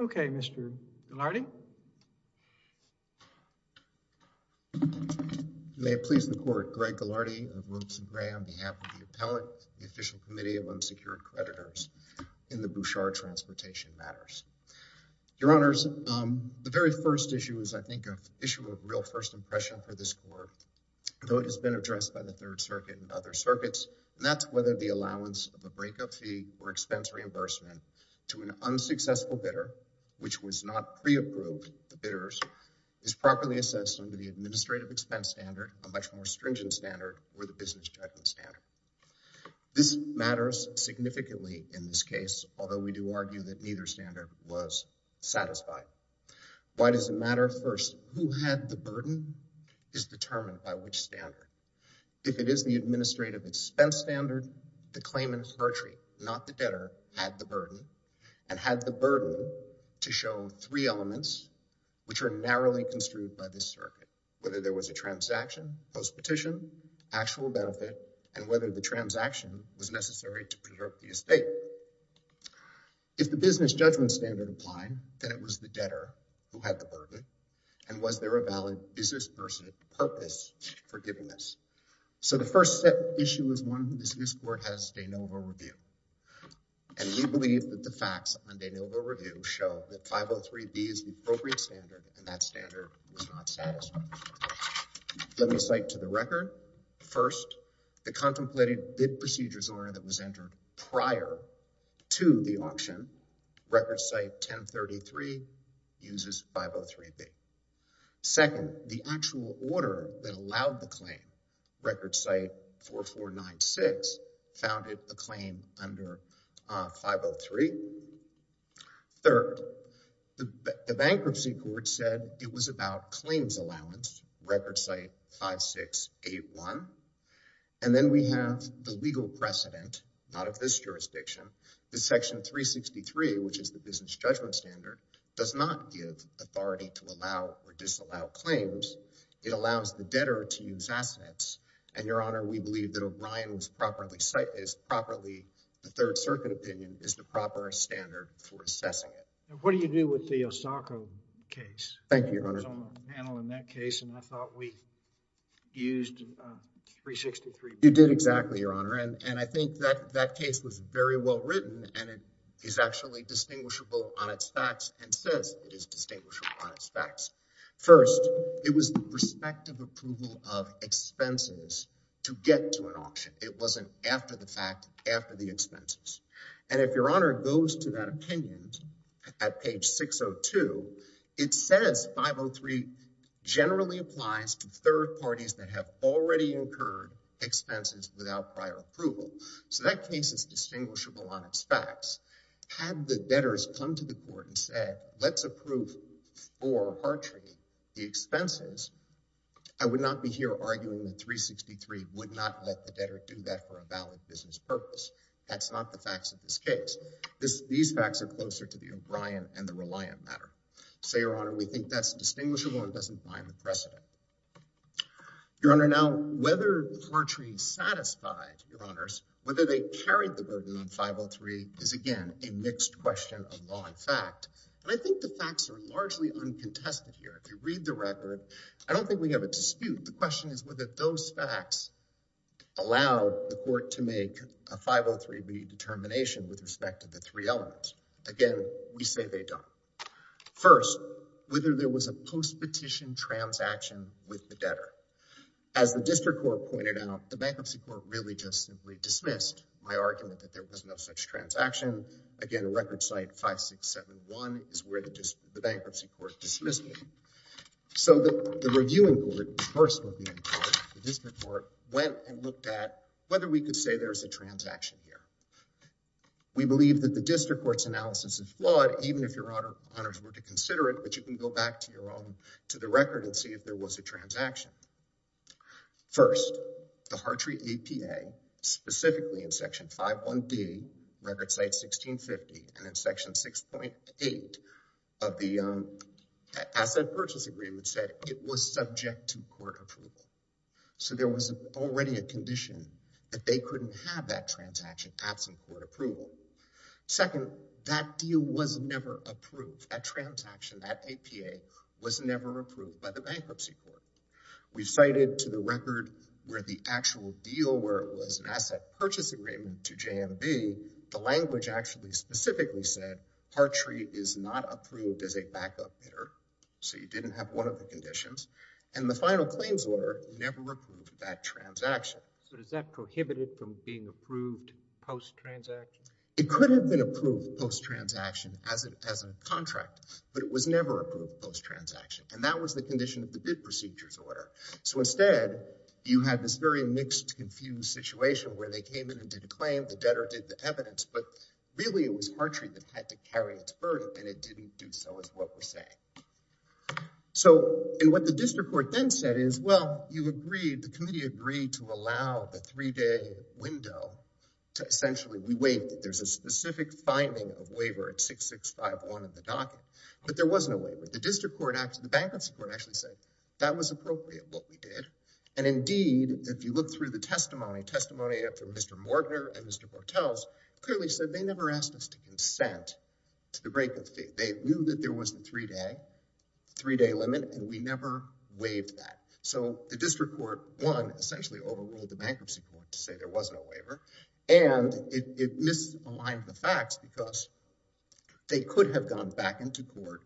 Okay, Mr. Gillardy? May it please the Court. Greg Gillardy of Wilson Gray on behalf of the Appellate, the Official Committee of Unsecured Creditors in the Bouchard Transportation Matters. Your Honors, the very first issue is, I think, an issue of real first impression for this Court, though it has been addressed by the Third Circuit and other circuits, and that's whether the allowance of a breakup fee or expense reimbursement to an unsuccessful bidder, which was not pre-approved, the bidders, is properly assessed under the Administrative Expense Standard, a much more stringent standard, or the Business Judgment Standard. This matters significantly in this case, although we do argue that neither standard was satisfied. Why does it matter? First, who had the burden is determined by which standard. If it is the Administrative Expense Standard, the claimant, Hartree, not the debtor, had the burden, and had the burden to show three elements which are narrowly construed by this the transaction was necessary to preserve the estate. If the Business Judgment Standard applied, then it was the debtor who had the burden, and was there a valid business purpose for giving this. So the first issue is one that this Court has de novo reviewed, and we believe that the facts on de novo review show that 503B is the appropriate standard, and that standard was not satisfied. Let me cite to the record, first, the contemplated bid procedures order that was entered prior to the auction, record site 1033, uses 503B. Second, the actual order that allowed the claim, record site 4496, founded the claim under 503. Third, the Bankruptcy Court said it was about claims allowance, record site 5681, and then we have the legal precedent, not of this jurisdiction, that Section 363, which is the Business Judgment Standard, does not give authority to allow or disallow claims. It allows the debtor to use assets, and, Your Honor, we believe that O'Brien was properly the Third Circuit opinion is the proper standard for assessing it. And what do you do with the Osaka case? Thank you, Your Honor. I was on the panel in that case, and I thought we used 363B. You did exactly, Your Honor, and I think that that case was very well written, and it is actually distinguishable on its facts, and says it is distinguishable on its facts. First, it was the prospective approval of expenses to get to an auction. It wasn't after the fact, after the expenses. And if Your Honor goes to that opinion at page 602, it says 503 generally applies to third parties that have already incurred expenses without prior approval. So that case is distinguishable on its facts. Had the debtors come to the court and said, let's approve for Hartree the expenses, I would not let the debtor do that for a valid business purpose. That's not the facts of this case. These facts are closer to the O'Brien and the Reliant matter. So, Your Honor, we think that's distinguishable and doesn't bind the precedent. Your Honor, now, whether Hartree satisfied, Your Honors, whether they carried the burden on 503 is, again, a mixed question of law and fact. And I think the facts are largely uncontested here. If you read the record, I don't think we have a dispute. The question is whether those facts allow the court to make a 503B determination with respect to the three elements. Again, we say they don't. First, whether there was a post-petition transaction with the debtor. As the district court pointed out, the bankruptcy court really just simply dismissed my argument that there was no such transaction. Again, record site 5671 is where the bankruptcy court dismissed me. So the reviewing court, the first reviewing court, the district court, went and looked at whether we could say there's a transaction here. We believe that the district court's analysis is flawed, even if Your Honors were to consider it. But you can go back to the record and see if there was a transaction. First, the Hartree APA, specifically in section 5.1B, record site 1650, and in section 6.8 of the asset purchase agreement said it was subject to court approval. So there was already a condition that they couldn't have that transaction absent court approval. Second, that deal was never approved. That transaction, that APA, was never approved by the bankruptcy court. We cited to the record where the actual deal, where it was an asset purchase agreement to Hartree, is not approved as a backup bidder. So you didn't have one of the conditions. And the final claims order never approved that transaction. So is that prohibited from being approved post-transaction? It could have been approved post-transaction as a contract, but it was never approved post-transaction. And that was the condition of the bid procedures order. So instead, you had this very mixed, confused situation where they came in and did a claim, the debtor did the evidence. But really, it was Hartree that had to carry its burden, and it didn't do so is what we're saying. So, and what the district court then said is, well, you agreed, the committee agreed to allow the three-day window to essentially, we wait, there's a specific finding of waiver at 6651 in the docket. But there wasn't a waiver. The district court, the bankruptcy court actually said, that was appropriate, what we did. And indeed, if you look through the testimony, testimony from Mr. Mortner and Mr. Bortels, clearly said they never asked us to consent to the break of fee. They knew that there was a three-day limit, and we never waived that. So the district court, one, essentially overruled the bankruptcy court to say there was no waiver. And it misaligned the facts because they could have gone back into court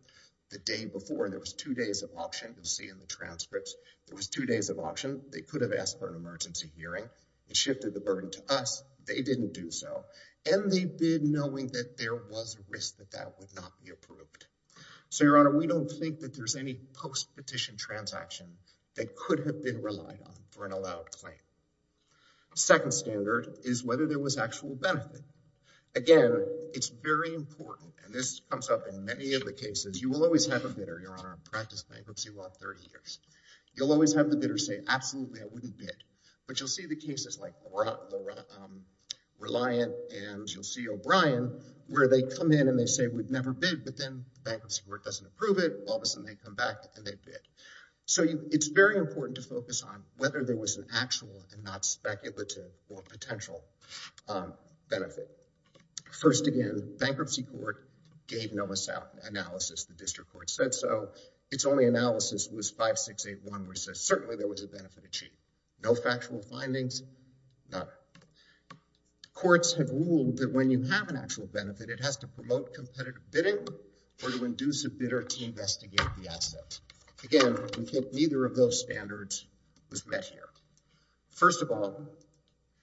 the day before. There was two days of option, you'll see in the transcripts. There was two days of option. They could have asked for an emergency hearing. It shifted the burden to us. They didn't do so. And they bid knowing that there was a risk that that would not be approved. So, Your Honor, we don't think that there's any post-petition transaction that could have been relied on for an allowed claim. Second standard is whether there was actual benefit. Again, it's very important, and this comes up in many of the cases, you will always have a bidder, Your Honor, I've practiced bankruptcy law for 30 years. You'll always have the bidder say, absolutely, I wouldn't bid. But you'll see the cases like Reliant and you'll see O'Brien, where they come in and they say we'd never bid, but then the bankruptcy court doesn't approve it. All of a sudden, they come back and they bid. So it's very important to focus on whether there was an actual and not speculative or potential benefit. First, again, bankruptcy court gave no analysis. The district court said so. Its only analysis was 5681, which says certainly there was a benefit achieved. No factual findings, none. Courts have ruled that when you have an actual benefit, it has to promote competitive bidding or to induce a bidder to investigate the asset. Again, neither of those standards was met here. First of all,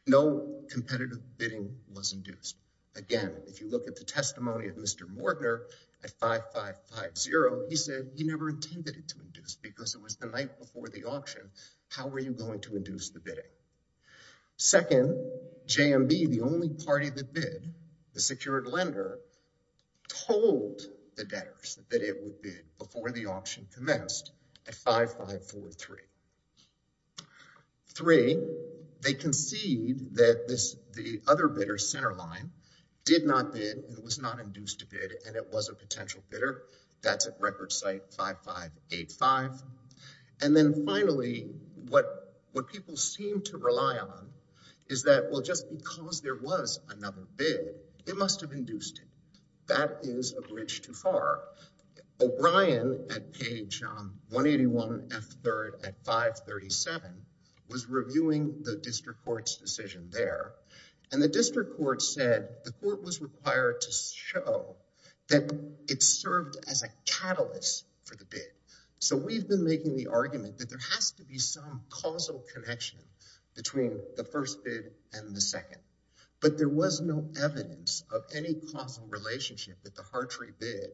no competitive bidding was induced. Again, if you look at the testimony of Mr. Mortner at 5550, he said he never intended it to induce because it was the night before the auction. How were you going to induce the bidding? Second, JMB, the only party that bid, the secured lender, told the debtors that it would bid before the auction commenced at 5543. Three, they concede that the other bidder's center line did not bid and was not induced to bid and it was a potential bidder. That's at record site 5585. And then finally, what people seem to rely on is that, well, just because there was another bid, it must have induced it. That is a bridge too far. O'Brien at page 181F3 at 537 was reviewing the district court's decision there. And the district court said the court was required to show that it served as a catalyst for the bid. So we've been making the argument that there has to be some causal connection between the first bid and the second, but there was no evidence of any causal relationship that the Hartree bid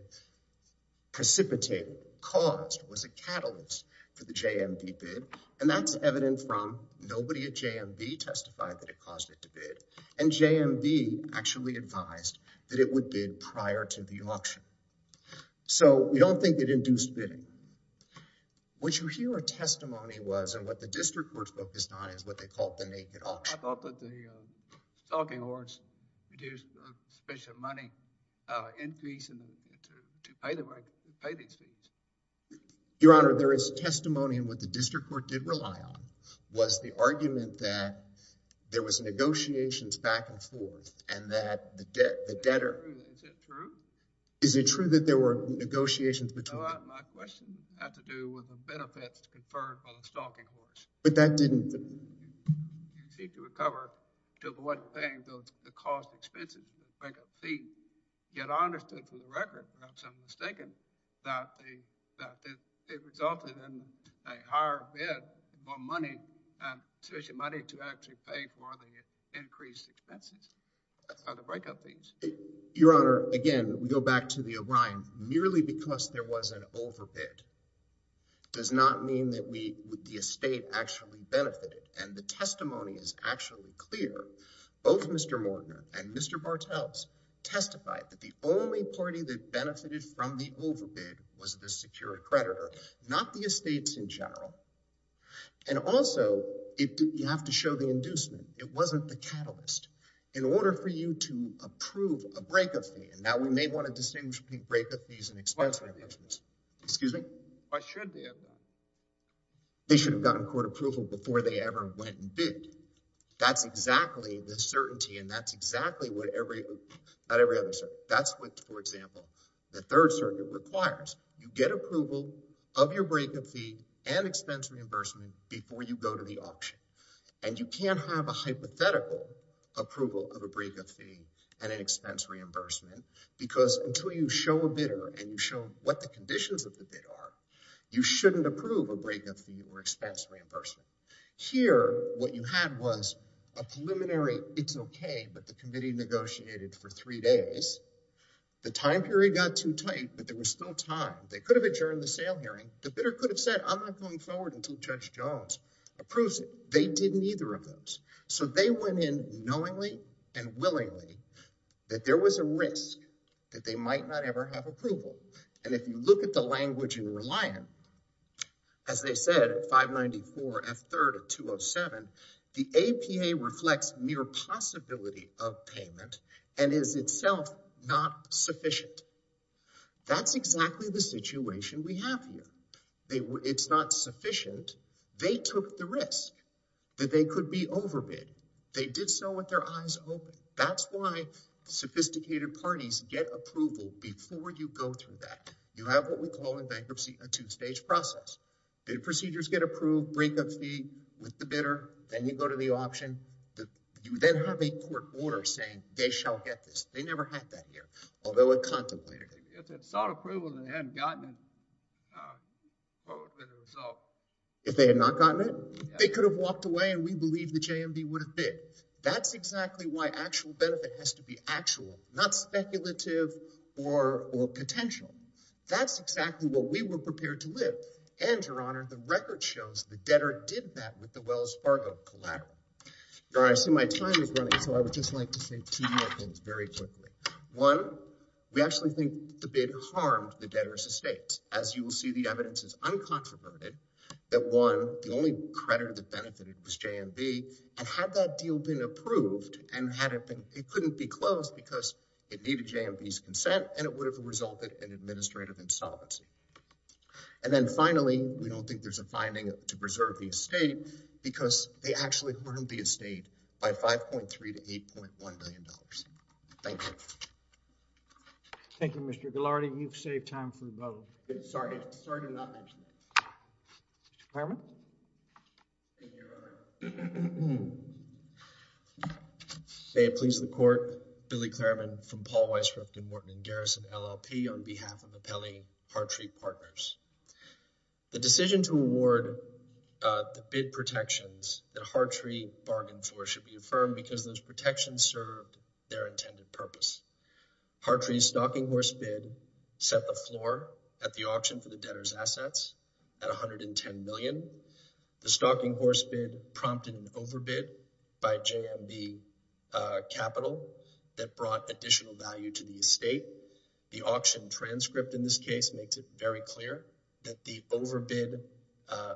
precipitated, caused, was a catalyst for the JMB bid. And that's evident from nobody at JMB testified that it caused it to bid and JMB actually advised that it would bid prior to the auction. So we don't think it induced bidding. What you hear a testimony was, and what the district court focused on, is what they called the naked auction. I thought that the stalking hoards produced a special money increase to pay these fees. Your Honor, there is testimony, and what the district court did rely on was the argument that there was negotiations back and forth and that the debtor... Is it true? Is it true that there were negotiations between... No, my question had to do with the benefits conferred by the stalking hoards. But that didn't... You seek to recover to avoid paying the cost expenses, the breakup fee. Yet I understood from the record, perhaps I'm mistaken, that it resulted in a higher bid for money, and sufficient money to actually pay for the increased expenses of the breakup fees. Your Honor, again, we go back to the O'Brien. Merely because there was an overbid does not mean that the estate actually benefited. And the testimony is actually clear. Both Mr. Mortner and Mr. Bartels testified that the only party that benefited from the overbid was the secured creditor, not the estates in general. And also, you have to show the inducement. It wasn't the catalyst. In order for you to approve a breakup fee... And now we may want to distinguish between breakup fees and expense reimbursements. Excuse me? I should be able to. They should have gotten court approval before they ever went and bid. That's exactly the certainty. And that's exactly what every... Not every other circuit. That's what, for example, the Third Circuit requires. You get approval of your breakup fee and expense reimbursement before you go to the auction. And you can't have a hypothetical approval of a breakup fee and an expense reimbursement because until you show a bidder and you show what the conditions of the bid are, you shouldn't approve a breakup fee or expense reimbursement. Here, what you had was a preliminary, it's okay, but the committee negotiated for three days. The time period got too tight, but there was still time. They could have adjourned the sale hearing. The bidder could have said, I'm not going forward until Judge Jones approves it. They did neither of those. So they went in knowingly and willingly that there was a risk that they might not ever have approval. And if you look at the language in Reliant, as they said at 594 F3rd at 207, the APA reflects mere possibility of payment and is itself not sufficient. That's exactly the situation we have here. It's not sufficient. They took the risk. That they could be overbid. They did so with their eyes open. That's why sophisticated parties get approval before you go through that. You have what we call in bankruptcy, a two-stage process. Bid procedures get approved, breakup fee with the bidder. Then you go to the option. You then have a court order saying they shall get this. They never had that here. Although it contemplated it. If they had sought approval, they hadn't gotten it for the result. If they had not gotten it, they could have walked away and we believe the JMD would have bid. That's exactly why actual benefit has to be actual, not speculative or potential. That's exactly what we were prepared to live. And Your Honor, the record shows the debtor did that with the Wells Fargo collateral. Your Honor, I see my time is running, so I would just like to say two more things very quickly. One, we actually think the bid harmed the debtor's estate. As you will see, the evidence is uncontroverted. That one, the only creditor that benefited was JMD. And had that deal been approved and had it been, it couldn't be closed because it needed JMD's consent and it would have resulted in administrative insolvency. And then finally, we don't think there's a finding to preserve the estate because they actually harmed the estate by 5.3 to $8.1 million. Thank you. Thank you, Mr. Ghilardi. You've saved time for both. Sorry, sorry to not mention that. Mr. Klarman? Thank you, Your Honor. May it please the Court, Billy Klarman from Paul Weiss, Ruffin, Morton & Garrison, LLP on behalf of the Pelle Hartree Partners. The decision to award the bid protections that Hartree bargained for should be affirmed because those protections served their intended purpose. Hartree's stocking horse bid set the floor at the auction for the debtor's assets at $110 million. The stocking horse bid prompted an overbid by JMD Capital that brought additional value to the estate. The auction transcript in this case makes it very clear that the overbid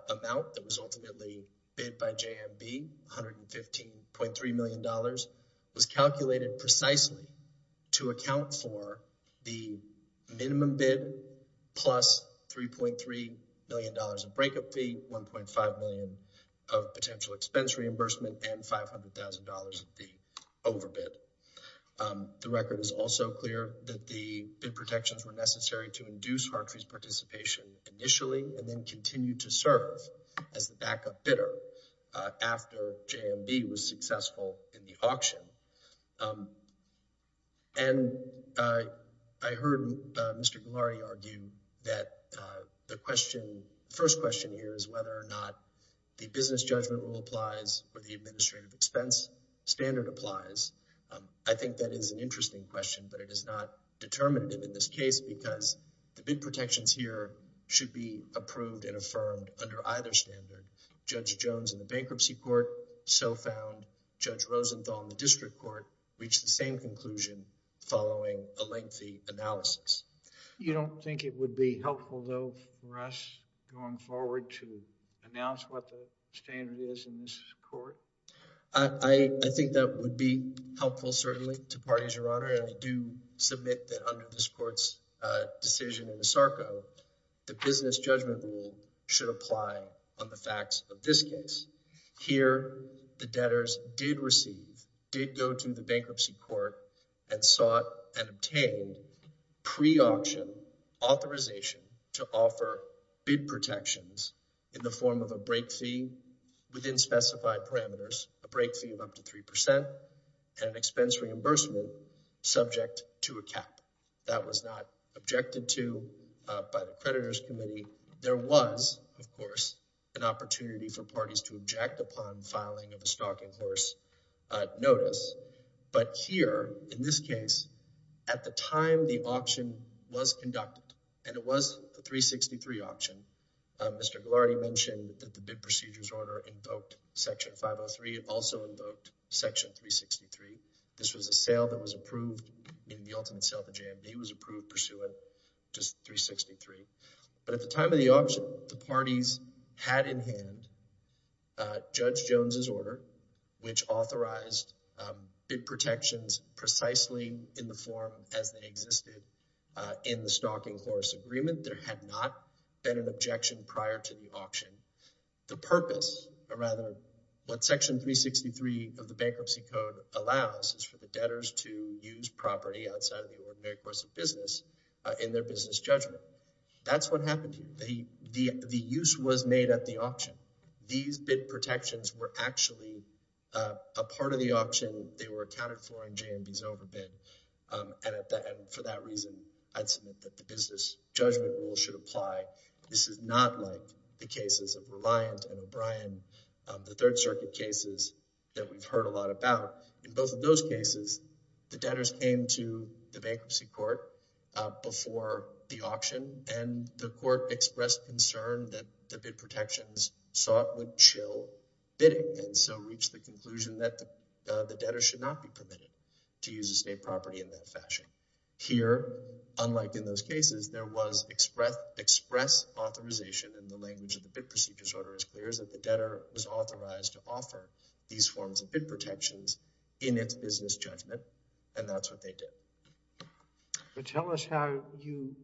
amount that was ultimately bid by JMD, $115.3 million, was calculated precisely to account for the minimum bid plus $3.3 million of breakup fee, $1.5 million of potential expense reimbursement, and $500,000 of the overbid. The record is also clear that the bid protections were necessary to induce Hartree's participation initially and then continue to serve as the backup bidder after JMD was successful in the auction. And I heard Mr. Gillory argue that the question, the first question here is whether or not the business judgment rule applies or the administrative expense standard applies. I think that is an interesting question, but it is not determinative in this case because the bid protections here should be approved and affirmed under either standard. Judge Rosenthal in the district court, so found. Reached the same conclusion following a lengthy analysis. You don't think it would be helpful though for us going forward to announce what the standard is in this court? I think that would be helpful certainly to parties, Your Honor. And I do submit that under this court's decision in the SARCO, the business judgment rule should apply on the facts of this case. Here, the debtors did receive, did go to the bankruptcy court and sought and obtained pre-auction authorization to offer bid protections in the form of a break fee within specified parameters, a break fee of up to 3% and an expense reimbursement subject to a cap. That was not objected to by the creditors committee. There was, of course, an opportunity for parties to object upon filing of a stocking horse notice. But here in this case, at the time the auction was conducted and it was a 363 auction, Mr. Ghilardi mentioned that the bid procedures order invoked section 503. It also invoked section 363. This was a sale that was approved in the ultimate sale to JMD was approved pursuant to 363. But at the time of the auction, the parties had in hand Judge Jones's order, which authorized bid protections precisely in the form as they existed in the stocking horse agreement. There had not been an objection prior to the auction. The purpose or rather what section 363 of the bankruptcy code allows is for the debtors to use property outside of the ordinary course of business in their business judgment. That's what happened here. The use was made at the auction. These bid protections were actually a part of the auction. They were accounted for in JMD's overbid. And for that reason, I'd submit that the business judgment rule should apply. This is not like the cases of Reliant and O'Brien, the third circuit cases that we've heard a lot about. to the bankruptcy court before the auction and the court expressed concern that the bid protections sought would chill bidding and so reach the conclusion that the debtor should not be permitted to use estate property in that fashion. Here, unlike in those cases, there was express authorization and the language of the bid procedures order is clear is that the debtor was authorized to offer these forms of bid protections in its business judgment and that's what they did. But tell us how you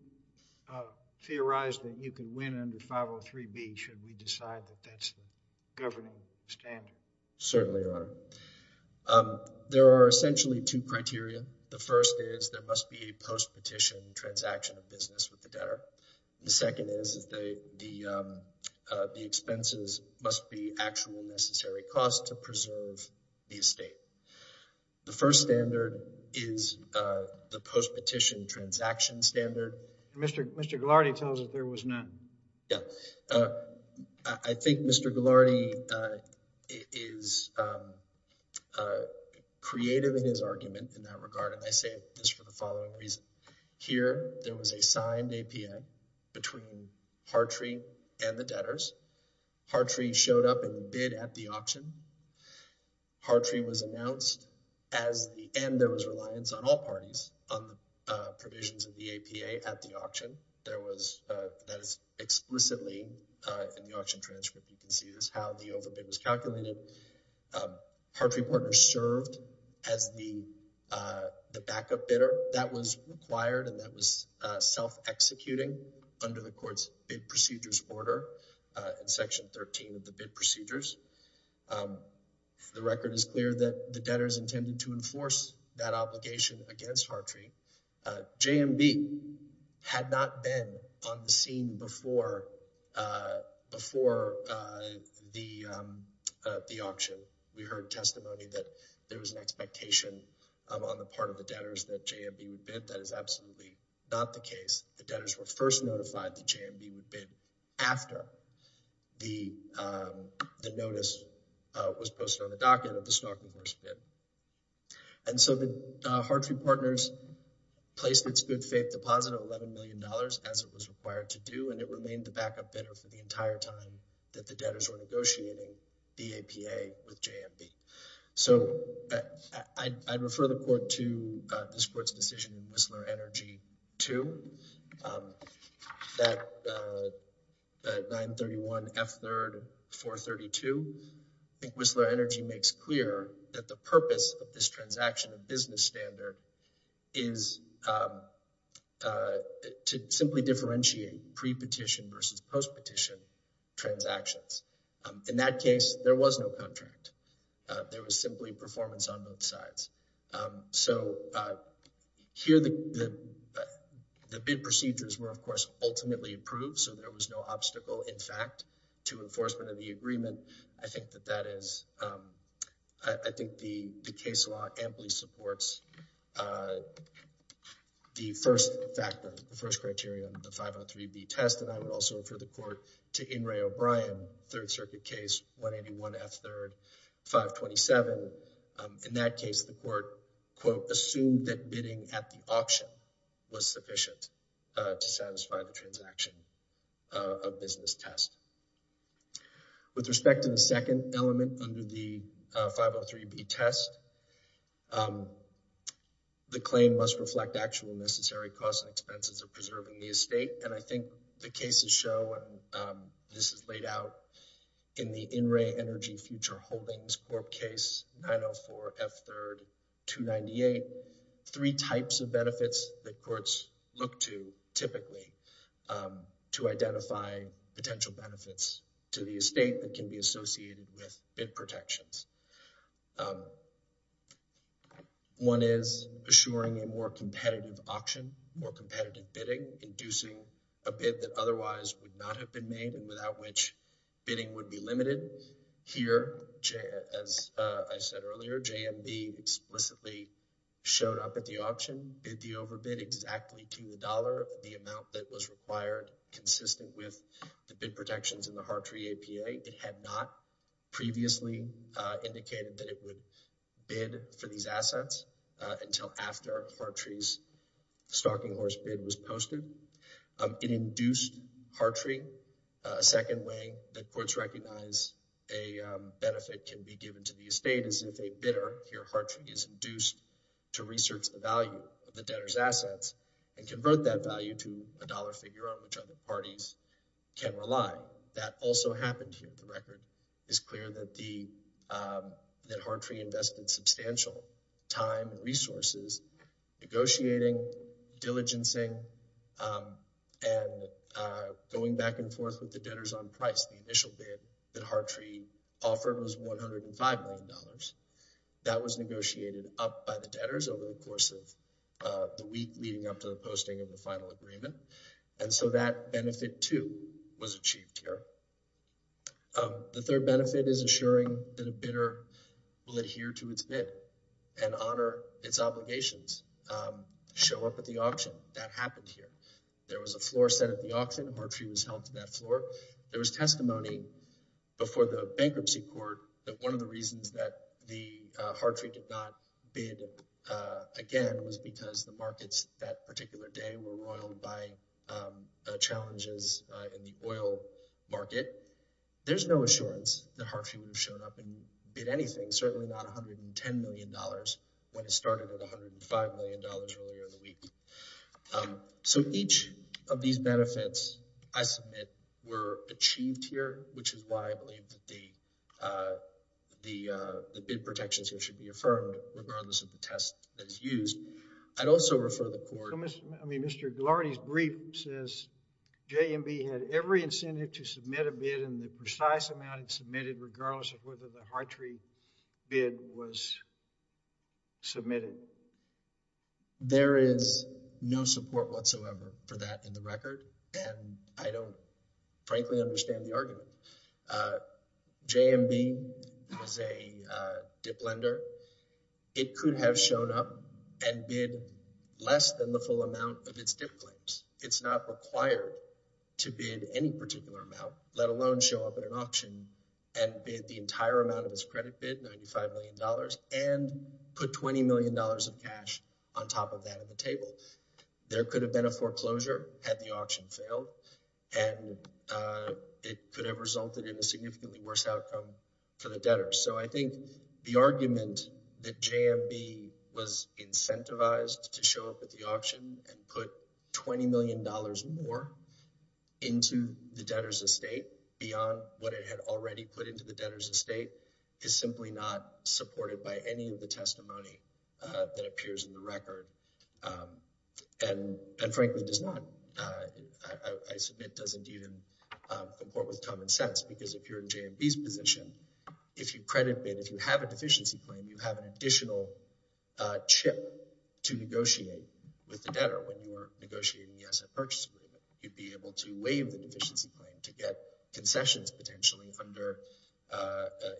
theorize that you can win under 503B should we decide that that's the governing standard. Certainly are. There are essentially two criteria. The first is there must be a post-petition transaction of business with the debtor. The second is that the expenses must be actual necessary costs to preserve the estate. The first standard is the post-petition transaction standard. Mr. Ghilardi tells us there was none. Yeah, I think Mr. Ghilardi is creative in his argument in that regard and I say this for the following reason. Here, there was a signed APN between Hartree and the debtors. Hartree showed up and bid at the auction. Hartree was announced as the end. There was reliance on all parties on the provisions of the APA at the auction. There was that is explicitly in the auction transcript. You can see this how the overbid was calculated. Hartree Partners served as the backup bidder that was required and that was self-executing under the court's bid procedures order in section 13 of the bid procedures. The record is clear that the debtors intended to enforce that obligation against Hartree. JMB had not been on the scene before the auction. We heard testimony that there was an expectation on the part of the debtors that JMB would bid. That is absolutely not the case. The debtors were first notified that JMB would bid after the notice was posted on the docket of the stock reverse bid. So, Hartree Partners placed its good faith deposit of $11 million as it was required to do and it remained the backup bidder for the entire time that the debtors were negotiating the APA with JMB. So, I refer the court to this court's decision in Whistler Energy 2 that 931 F3rd 432. I think Whistler Energy makes clear that the purpose of this transaction of business standard is to simply differentiate pre-petition versus post-petition transactions. In that case, there was no contract. There was simply performance on both sides. So, here the bid procedures were, of course, ultimately approved. So, there was no obstacle, in fact, to enforcement of the agreement. I think that that is, I think the case law amply supports the first factor, the first criteria on the 503B test and I would also refer the court to In re O'Brien, Third Circuit case 181 F3rd 527. In that case, the court, quote, assumed that bidding at the auction was sufficient to satisfy the transaction of business test. With respect to the second element under the 503B test, the claim must reflect actual necessary costs and expenses of preserving the estate and I think the cases show, this is laid out in the In re Energy Future Holdings Corp case 904 F3rd 298. Three types of benefits that courts look to typically to identify potential benefits to the estate that can be associated with bid protections. One is assuring a more competitive auction, more competitive bidding, inducing a bid that otherwise would not have been made and without which bidding would be limited. Here, as I said earlier, JMB explicitly showed up at the auction, bid the overbid exactly to the dollar, the amount that was required consistent with the bid protections in the Hartree APA. It had not previously indicated that it would bid for these assets until after Hartree's stocking horse bid was posted. It induced Hartree a second way that courts recognize a benefit can be given to the estate as if a bidder here Hartree is induced to research the value of the debtor's assets and convert that value to a dollar figure on which other parties can rely. That also happened here. The record is clear that Hartree invested substantial time and resources negotiating, diligencing and going back and forth with the debtors on price. The initial bid that Hartree offered was $105 million. That was negotiated up by the debtors over the course of the week leading up to the posting of the final agreement. And so that benefit too was achieved here. The third benefit is assuring that a bidder will adhere to its bid and honor its obligations. Show up at the auction. That happened here. There was a floor set at the auction. Hartree was held to that floor. There was testimony before the bankruptcy court that one of the reasons that the Hartree did not bid again was because the markets that particular day were roiled by challenges in the oil market. There's no assurance that Hartree would have shown up and bid anything, certainly not $110 million when it started at $105 million earlier in the week. So each of these benefits I submit were achieved here, which is why I believe that the bid protections here should be affirmed regardless of the test that is used. I'd also refer the court... I mean, Mr. Ghilardi's brief says JMB had every incentive to submit a bid and the precise amount it submitted regardless of whether the Hartree bid was submitted. There is no support whatsoever for that in the record. And I don't frankly understand the argument. JMB is a dip lender. It could have shown up and bid less than the full amount of its dip claims. It's not required to bid any particular amount, let alone show up at an auction and bid the entire amount of its credit bid, $95 million, and put $20 million of cash on top of that at the table. There could have been a foreclosure had the auction failed and it could have resulted in a significantly worse outcome for the debtors. So I think the argument that JMB was incentivized to show up at the auction and put $20 million more into the debtors' estate beyond what it had already put into the debtors' estate is simply not supported by any of the testimony that appears in the record and frankly does not, I submit, doesn't even comport with common sense because if you're in JMB's position, if you credit bid, if you have a deficiency claim, you have an additional chip to negotiate with the debtor when you were negotiating the asset purchase agreement. You'd be able to waive the deficiency claim to get concessions potentially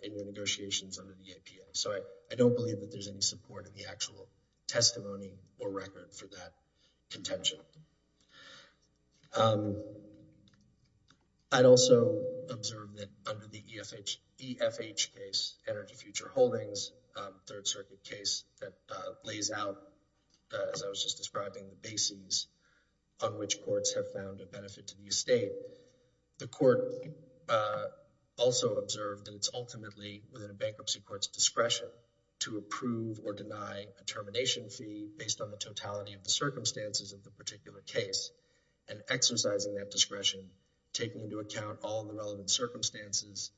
in the negotiations under the APA. So I don't believe that there's any support in the actual testimony or record for that contention. I'd also observe that under the EFH case, Energy Future Holdings, third circuit case, that lays out, as I was just describing, the bases on which courts have found a benefit to the estate, the court also observed that it's ultimately within a bankruptcy court's discretion to approve or deny a termination fee based on the totality of the circumstances of the particular case and exercising that discretion, taking into account all the relevant circumstances,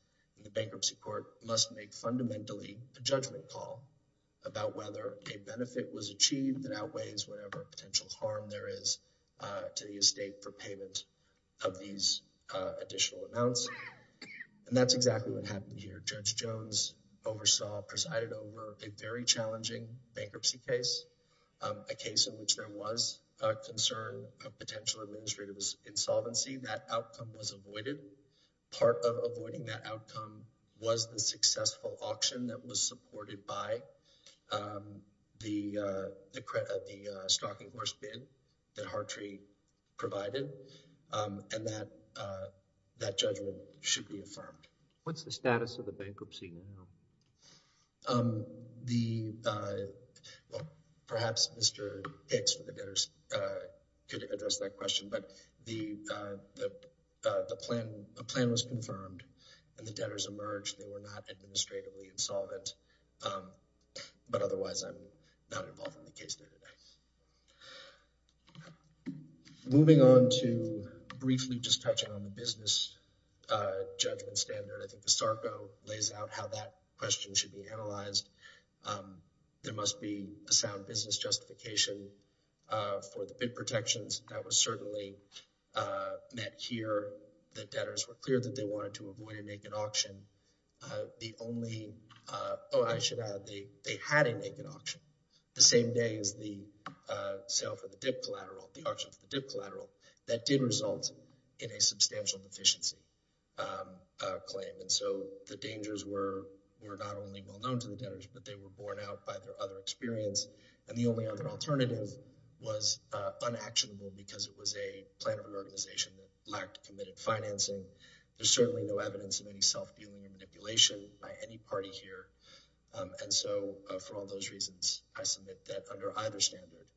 the bankruptcy court must make fundamentally a judgment call about whether a benefit was achieved that outweighs whatever potential harm there is to the estate for payment of these additional amounts. And that's exactly what happened here. Judge Jones oversaw, presided over, a very challenging bankruptcy case, a case in which there was a concern of potential administrative insolvency. That outcome was avoided. Part of avoiding that outcome was the successful auction that was supported by the stocking horse bid that Hartree provided, and that judgment should be affirmed. What's the status of the bankruptcy now? The, well, perhaps Mr. Hicks for the debtors could address that question, but the plan was confirmed and the debtors emerged. They were not administratively insolvent, but otherwise I'm not involved in the case there today. Moving on to briefly just touching on the business judgment standard, I think the SARCO lays out how that question should be analyzed. There must be a sound business justification for the bid protections. That was certainly met here. The debtors were clear that they wanted to avoid a naked auction. The only, oh, I should add, they had a naked auction the same day as the sale for the dip collateral, the auction for the dip collateral. That did result in a substantial deficiency claim, and so the dangers were not only well-known to the debtors, but they were borne out by their other experience, and the only other alternative was unactionable because it was a plan of an organization that lacked committed financing. There's certainly no evidence of any self-dealing and manipulation by any party here, and so for all those reasons, I submit that under either standard,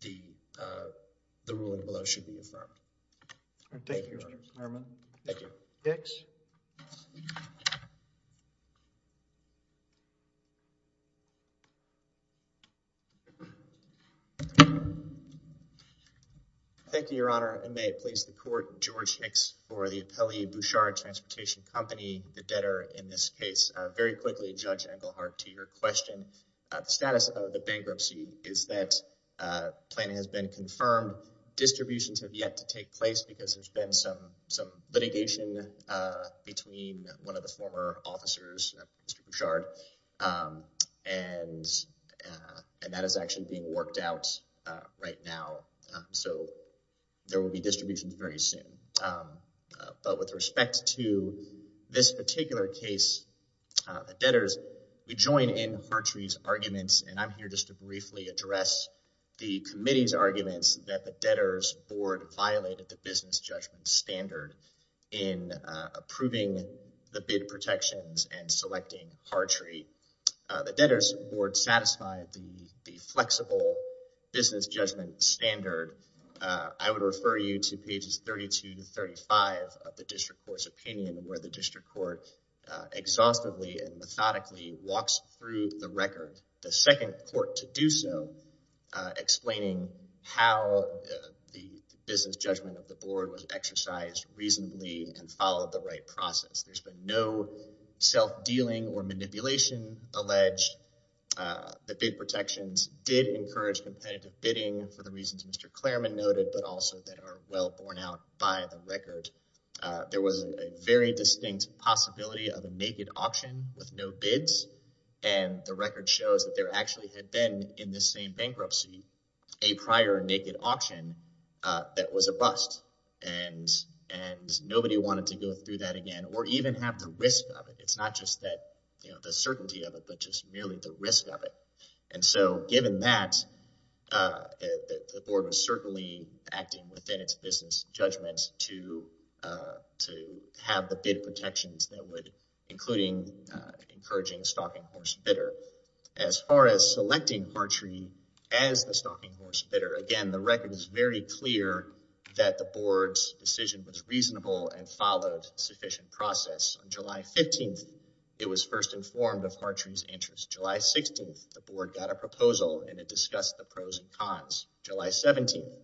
the ruling below should be affirmed. All right, thank you, Your Honor. Chairman. Thank you. Hicks. Thank you, Your Honor, and may it please the Court, George Hicks for the Appellee Bouchard Transportation Company, the debtor in this case. Very quickly, Judge Engelhardt, to your question. The status of the bankruptcy is that planning has been confirmed. Distributions have yet to take place because there's been some litigation between one of the former officers, Mr. Bouchard, and that is actually being worked out right now, so there will be distributions very soon, but with respect to this particular case, the debtors, we join in Hartree's arguments, and I'm here just to briefly address the committee's arguments that the debtors' board violated the business judgment standard in approving the bid protections and selecting Hartree. The debtors' board satisfied the flexible business judgment standard. I would refer you to pages 32 to 35 of the district court's opinion where the district court exhaustively and methodically walks through the record, the second court to do so, explaining how the business judgment of the board was exercised reasonably and followed the right process. There's been no self-dealing or manipulation alleged. The bid protections did encourage competitive bidding for the reasons Mr. Clareman noted, but also that are well borne out by the record. There was a very distinct possibility of a naked auction with no bids, and the record shows that there actually had been in the same bankruptcy a prior naked auction that was a bust, and nobody wanted to go through that again or even have the risk of it. It's not just the certainty of it, but just merely the risk of it, and so given that, the board was certainly acting within its business judgments to have the bid protections that would include encouraging a stalking horse bidder. As far as selecting Hartree as the stalking horse bidder, again, the record is very clear that the board's decision was reasonable and followed sufficient process. On July 15th, it was first informed of Hartree's interest. July 16th, the board got a proposal and it discussed the pros and cons. July 17th,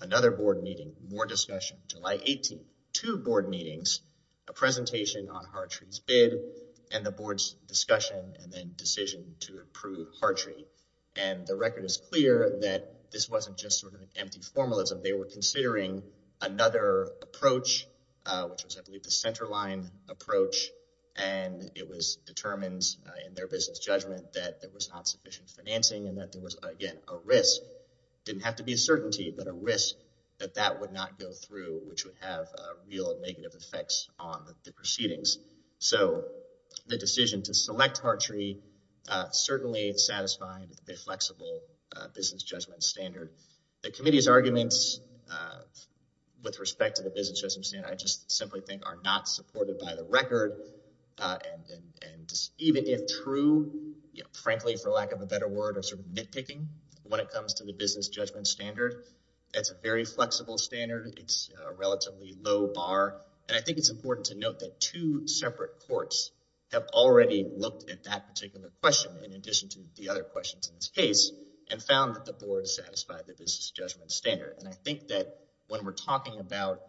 another board meeting, more discussion. July 18th, two board meetings, a presentation on Hartree's bid and the board's discussion and then decision to approve Hartree, and the record is clear that this wasn't just sort of empty formalism. They were considering another approach, which was, I believe, the centerline approach, and it was determined in their business judgment that there was not sufficient financing and that there was, again, a risk. It didn't have to be a certainty, but a risk that that would not go through, which would have real negative effects on the proceedings. So the decision to select Hartree certainly satisfied the flexible business judgment standard. The committee's arguments with respect to the business judgment standard, I just simply think, are not supported by the record and even if true, frankly, for lack of a better word, are sort of nitpicking when it comes to the business judgment standard. It's a very flexible standard. It's a relatively low bar, and I think it's important to note that two separate courts have already looked at that particular question, in addition to the other questions in this case, and found that the board satisfied the business judgment standard, and I think that when we're talking about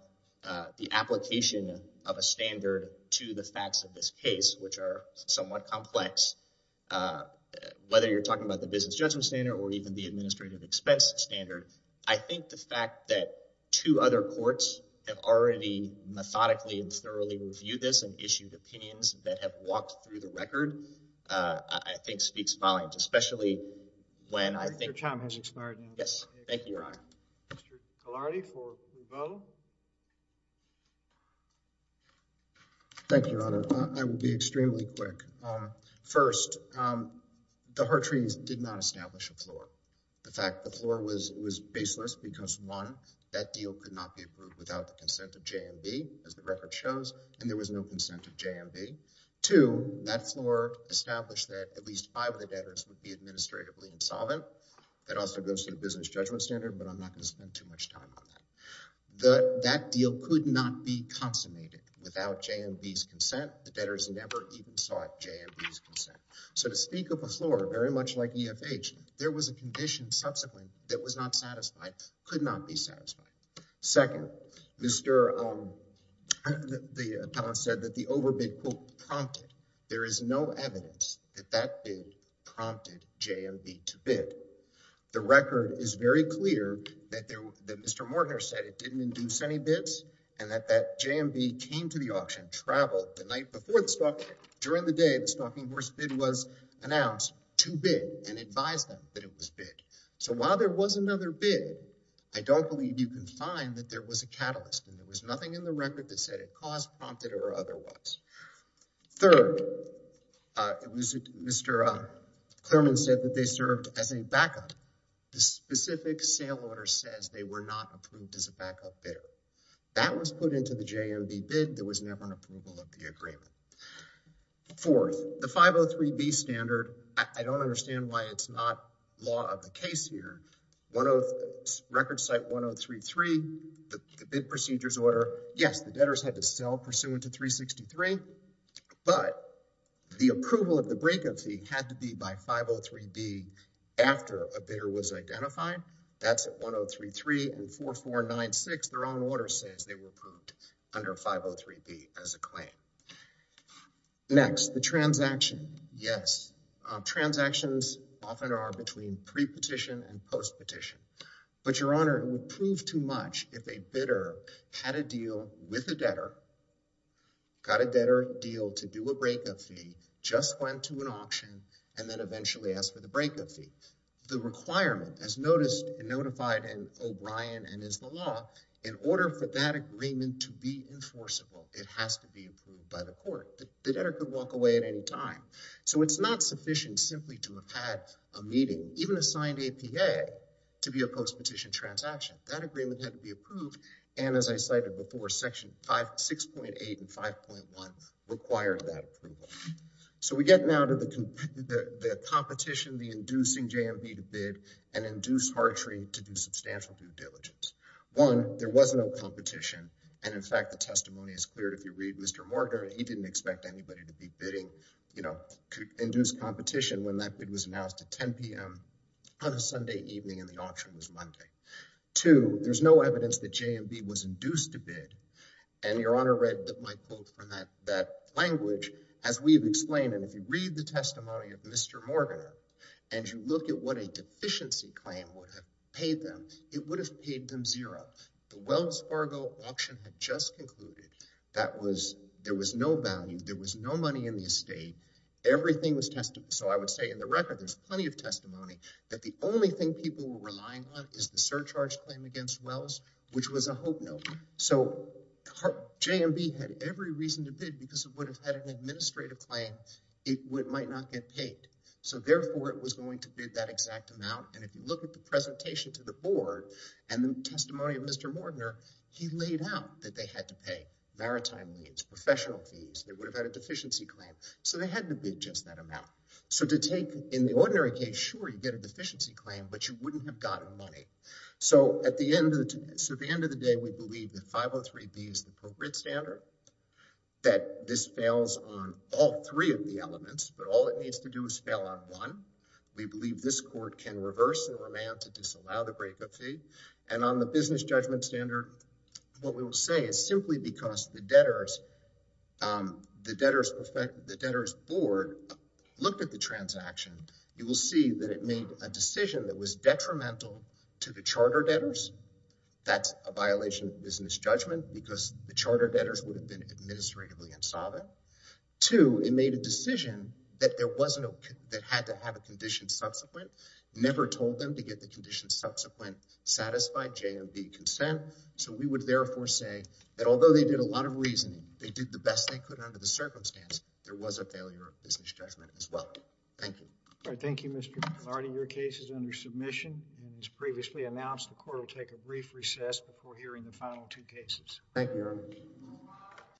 the application of a standard to the facts of this case, which are somewhat complex, whether you're talking about the business judgment standard or even the administrative expense standard, I think the fact that two other courts have already methodically and thoroughly reviewed this and issued opinions that have walked through the record, I think speaks volumes, especially when I think... Mr. Tom has expired now. Yes, thank you, Your Honor. Mr. Calardi for the vote. Thank you, Your Honor. I will be extremely quick. First, the Hartrees did not establish a floor. The fact the floor was baseless because, one, that deal could not be approved without the consent of JMB, as the record shows, and there was no consent of JMB. Two, that floor established that at least five of the debtors would be administratively insolvent. That also goes to the business judgment standard, but I'm not going to spend too much time on that. That deal could not be consummated without JMB's consent. The debtors never even sought JMB's consent. So to speak of a floor, very much like EFH, there was a condition subsequently that was not satisfied, could not be satisfied. Second, the appellant said that the overbid, quote, prompted. There is no evidence that that bid prompted JMB to bid. The record is very clear that Mr. Mortoner said it didn't induce any bids and that JMB came to the auction, traveled the night before the stock, during the day the stocking horse bid was announced to bid and advised them that it was bid. So while there was another bid, I don't believe you can find that there was a catalyst and there was nothing in the record that said it caused, prompted, or otherwise. Third, Mr. Clerman said that they served as a backup. The specific sale order says they were not approved as a backup bidder. That was put into the JMB bid. There was never an approval of the agreement. Fourth, the 503B standard, I don't understand why it's not law of the case here. Record site 1033, the bid procedures order, yes, the debtors had to sell pursuant to 363, but the approval of the breakup fee had to be by 503B after a bidder was identified. That's at 1033 and 4496. Their own order says they were approved under 503B as a claim. Next, the transaction. Yes, transactions often are between pre-petition and post-petition, but your honor, it would prove too much if a bidder had a deal with a debtor, got a debtor deal to do a breakup fee, just went to an auction, and then eventually asked for the breakup fee. The requirement, as noticed and notified in O'Brien and is the law, in order for that agreement to be enforceable, it has to be approved by the court. The debtor could walk away at any time. So it's not sufficient simply to have had a meeting, even a signed APA to be a post-petition transaction. That agreement had to be approved. And as I cited before, section 6.8 and 5.1 required that approval. So we get now to the competition, the inducing JMB to bid and induce Hartree to do substantial due diligence. One, there was no competition. And in fact, the testimony is clear if you read Mr. Morgan, he didn't expect anybody to be bidding, you know, induce competition when that bid was announced at 10 p.m. on a Sunday evening and the auction was Monday. Two, there's no evidence that JMB was induced to bid. And Your Honor read my quote from that language, as we've explained, and if you read the testimony of Mr. Morgan and you look at what a deficiency claim would have paid them, it would have paid them zero. The Wells Fargo auction had just concluded there was no value, there was no money in the estate, everything was tested. So I would say in the record, there's plenty of testimony that the only thing people were relying on is the surcharge claim against Wells, which was a hope note. So JMB had every reason to bid because it would have had an administrative claim, it might not get paid. So therefore, it was going to bid that exact amount. And if you look at the presentation to the board and the testimony of Mr. Mortner, he laid out that they had to pay maritime fees, professional fees, they would have had a deficiency claim. So they had to bid just that amount. So to take in the ordinary case, sure, you get a deficiency claim, but you wouldn't have gotten money. So at the end of the day, we believe that 503B is the appropriate standard, that this fails on all three of the elements, but all it needs to do is fail on one. We believe this court can reverse the remand to disallow the breakup fee. And on the business judgment standard, what we will say is simply because the debtors the debtors board looked at the transaction, you will see that it made a decision that was detrimental to the charter debtors. That's a violation of business judgment because the charter debtors would have been administratively insolvent. Two, it made a decision that there wasn't a that had to have a condition subsequent, never told them to get the condition subsequent satisfied JMB consent. So we would therefore say that although they did a lot of reasoning, they did the best they could under the circumstance. There was a failure of business judgment as well. Thank you. All right. Thank you, Mr. McClarty. Your case is under submission and as previously announced, the court will take a brief recess before hearing the final two cases.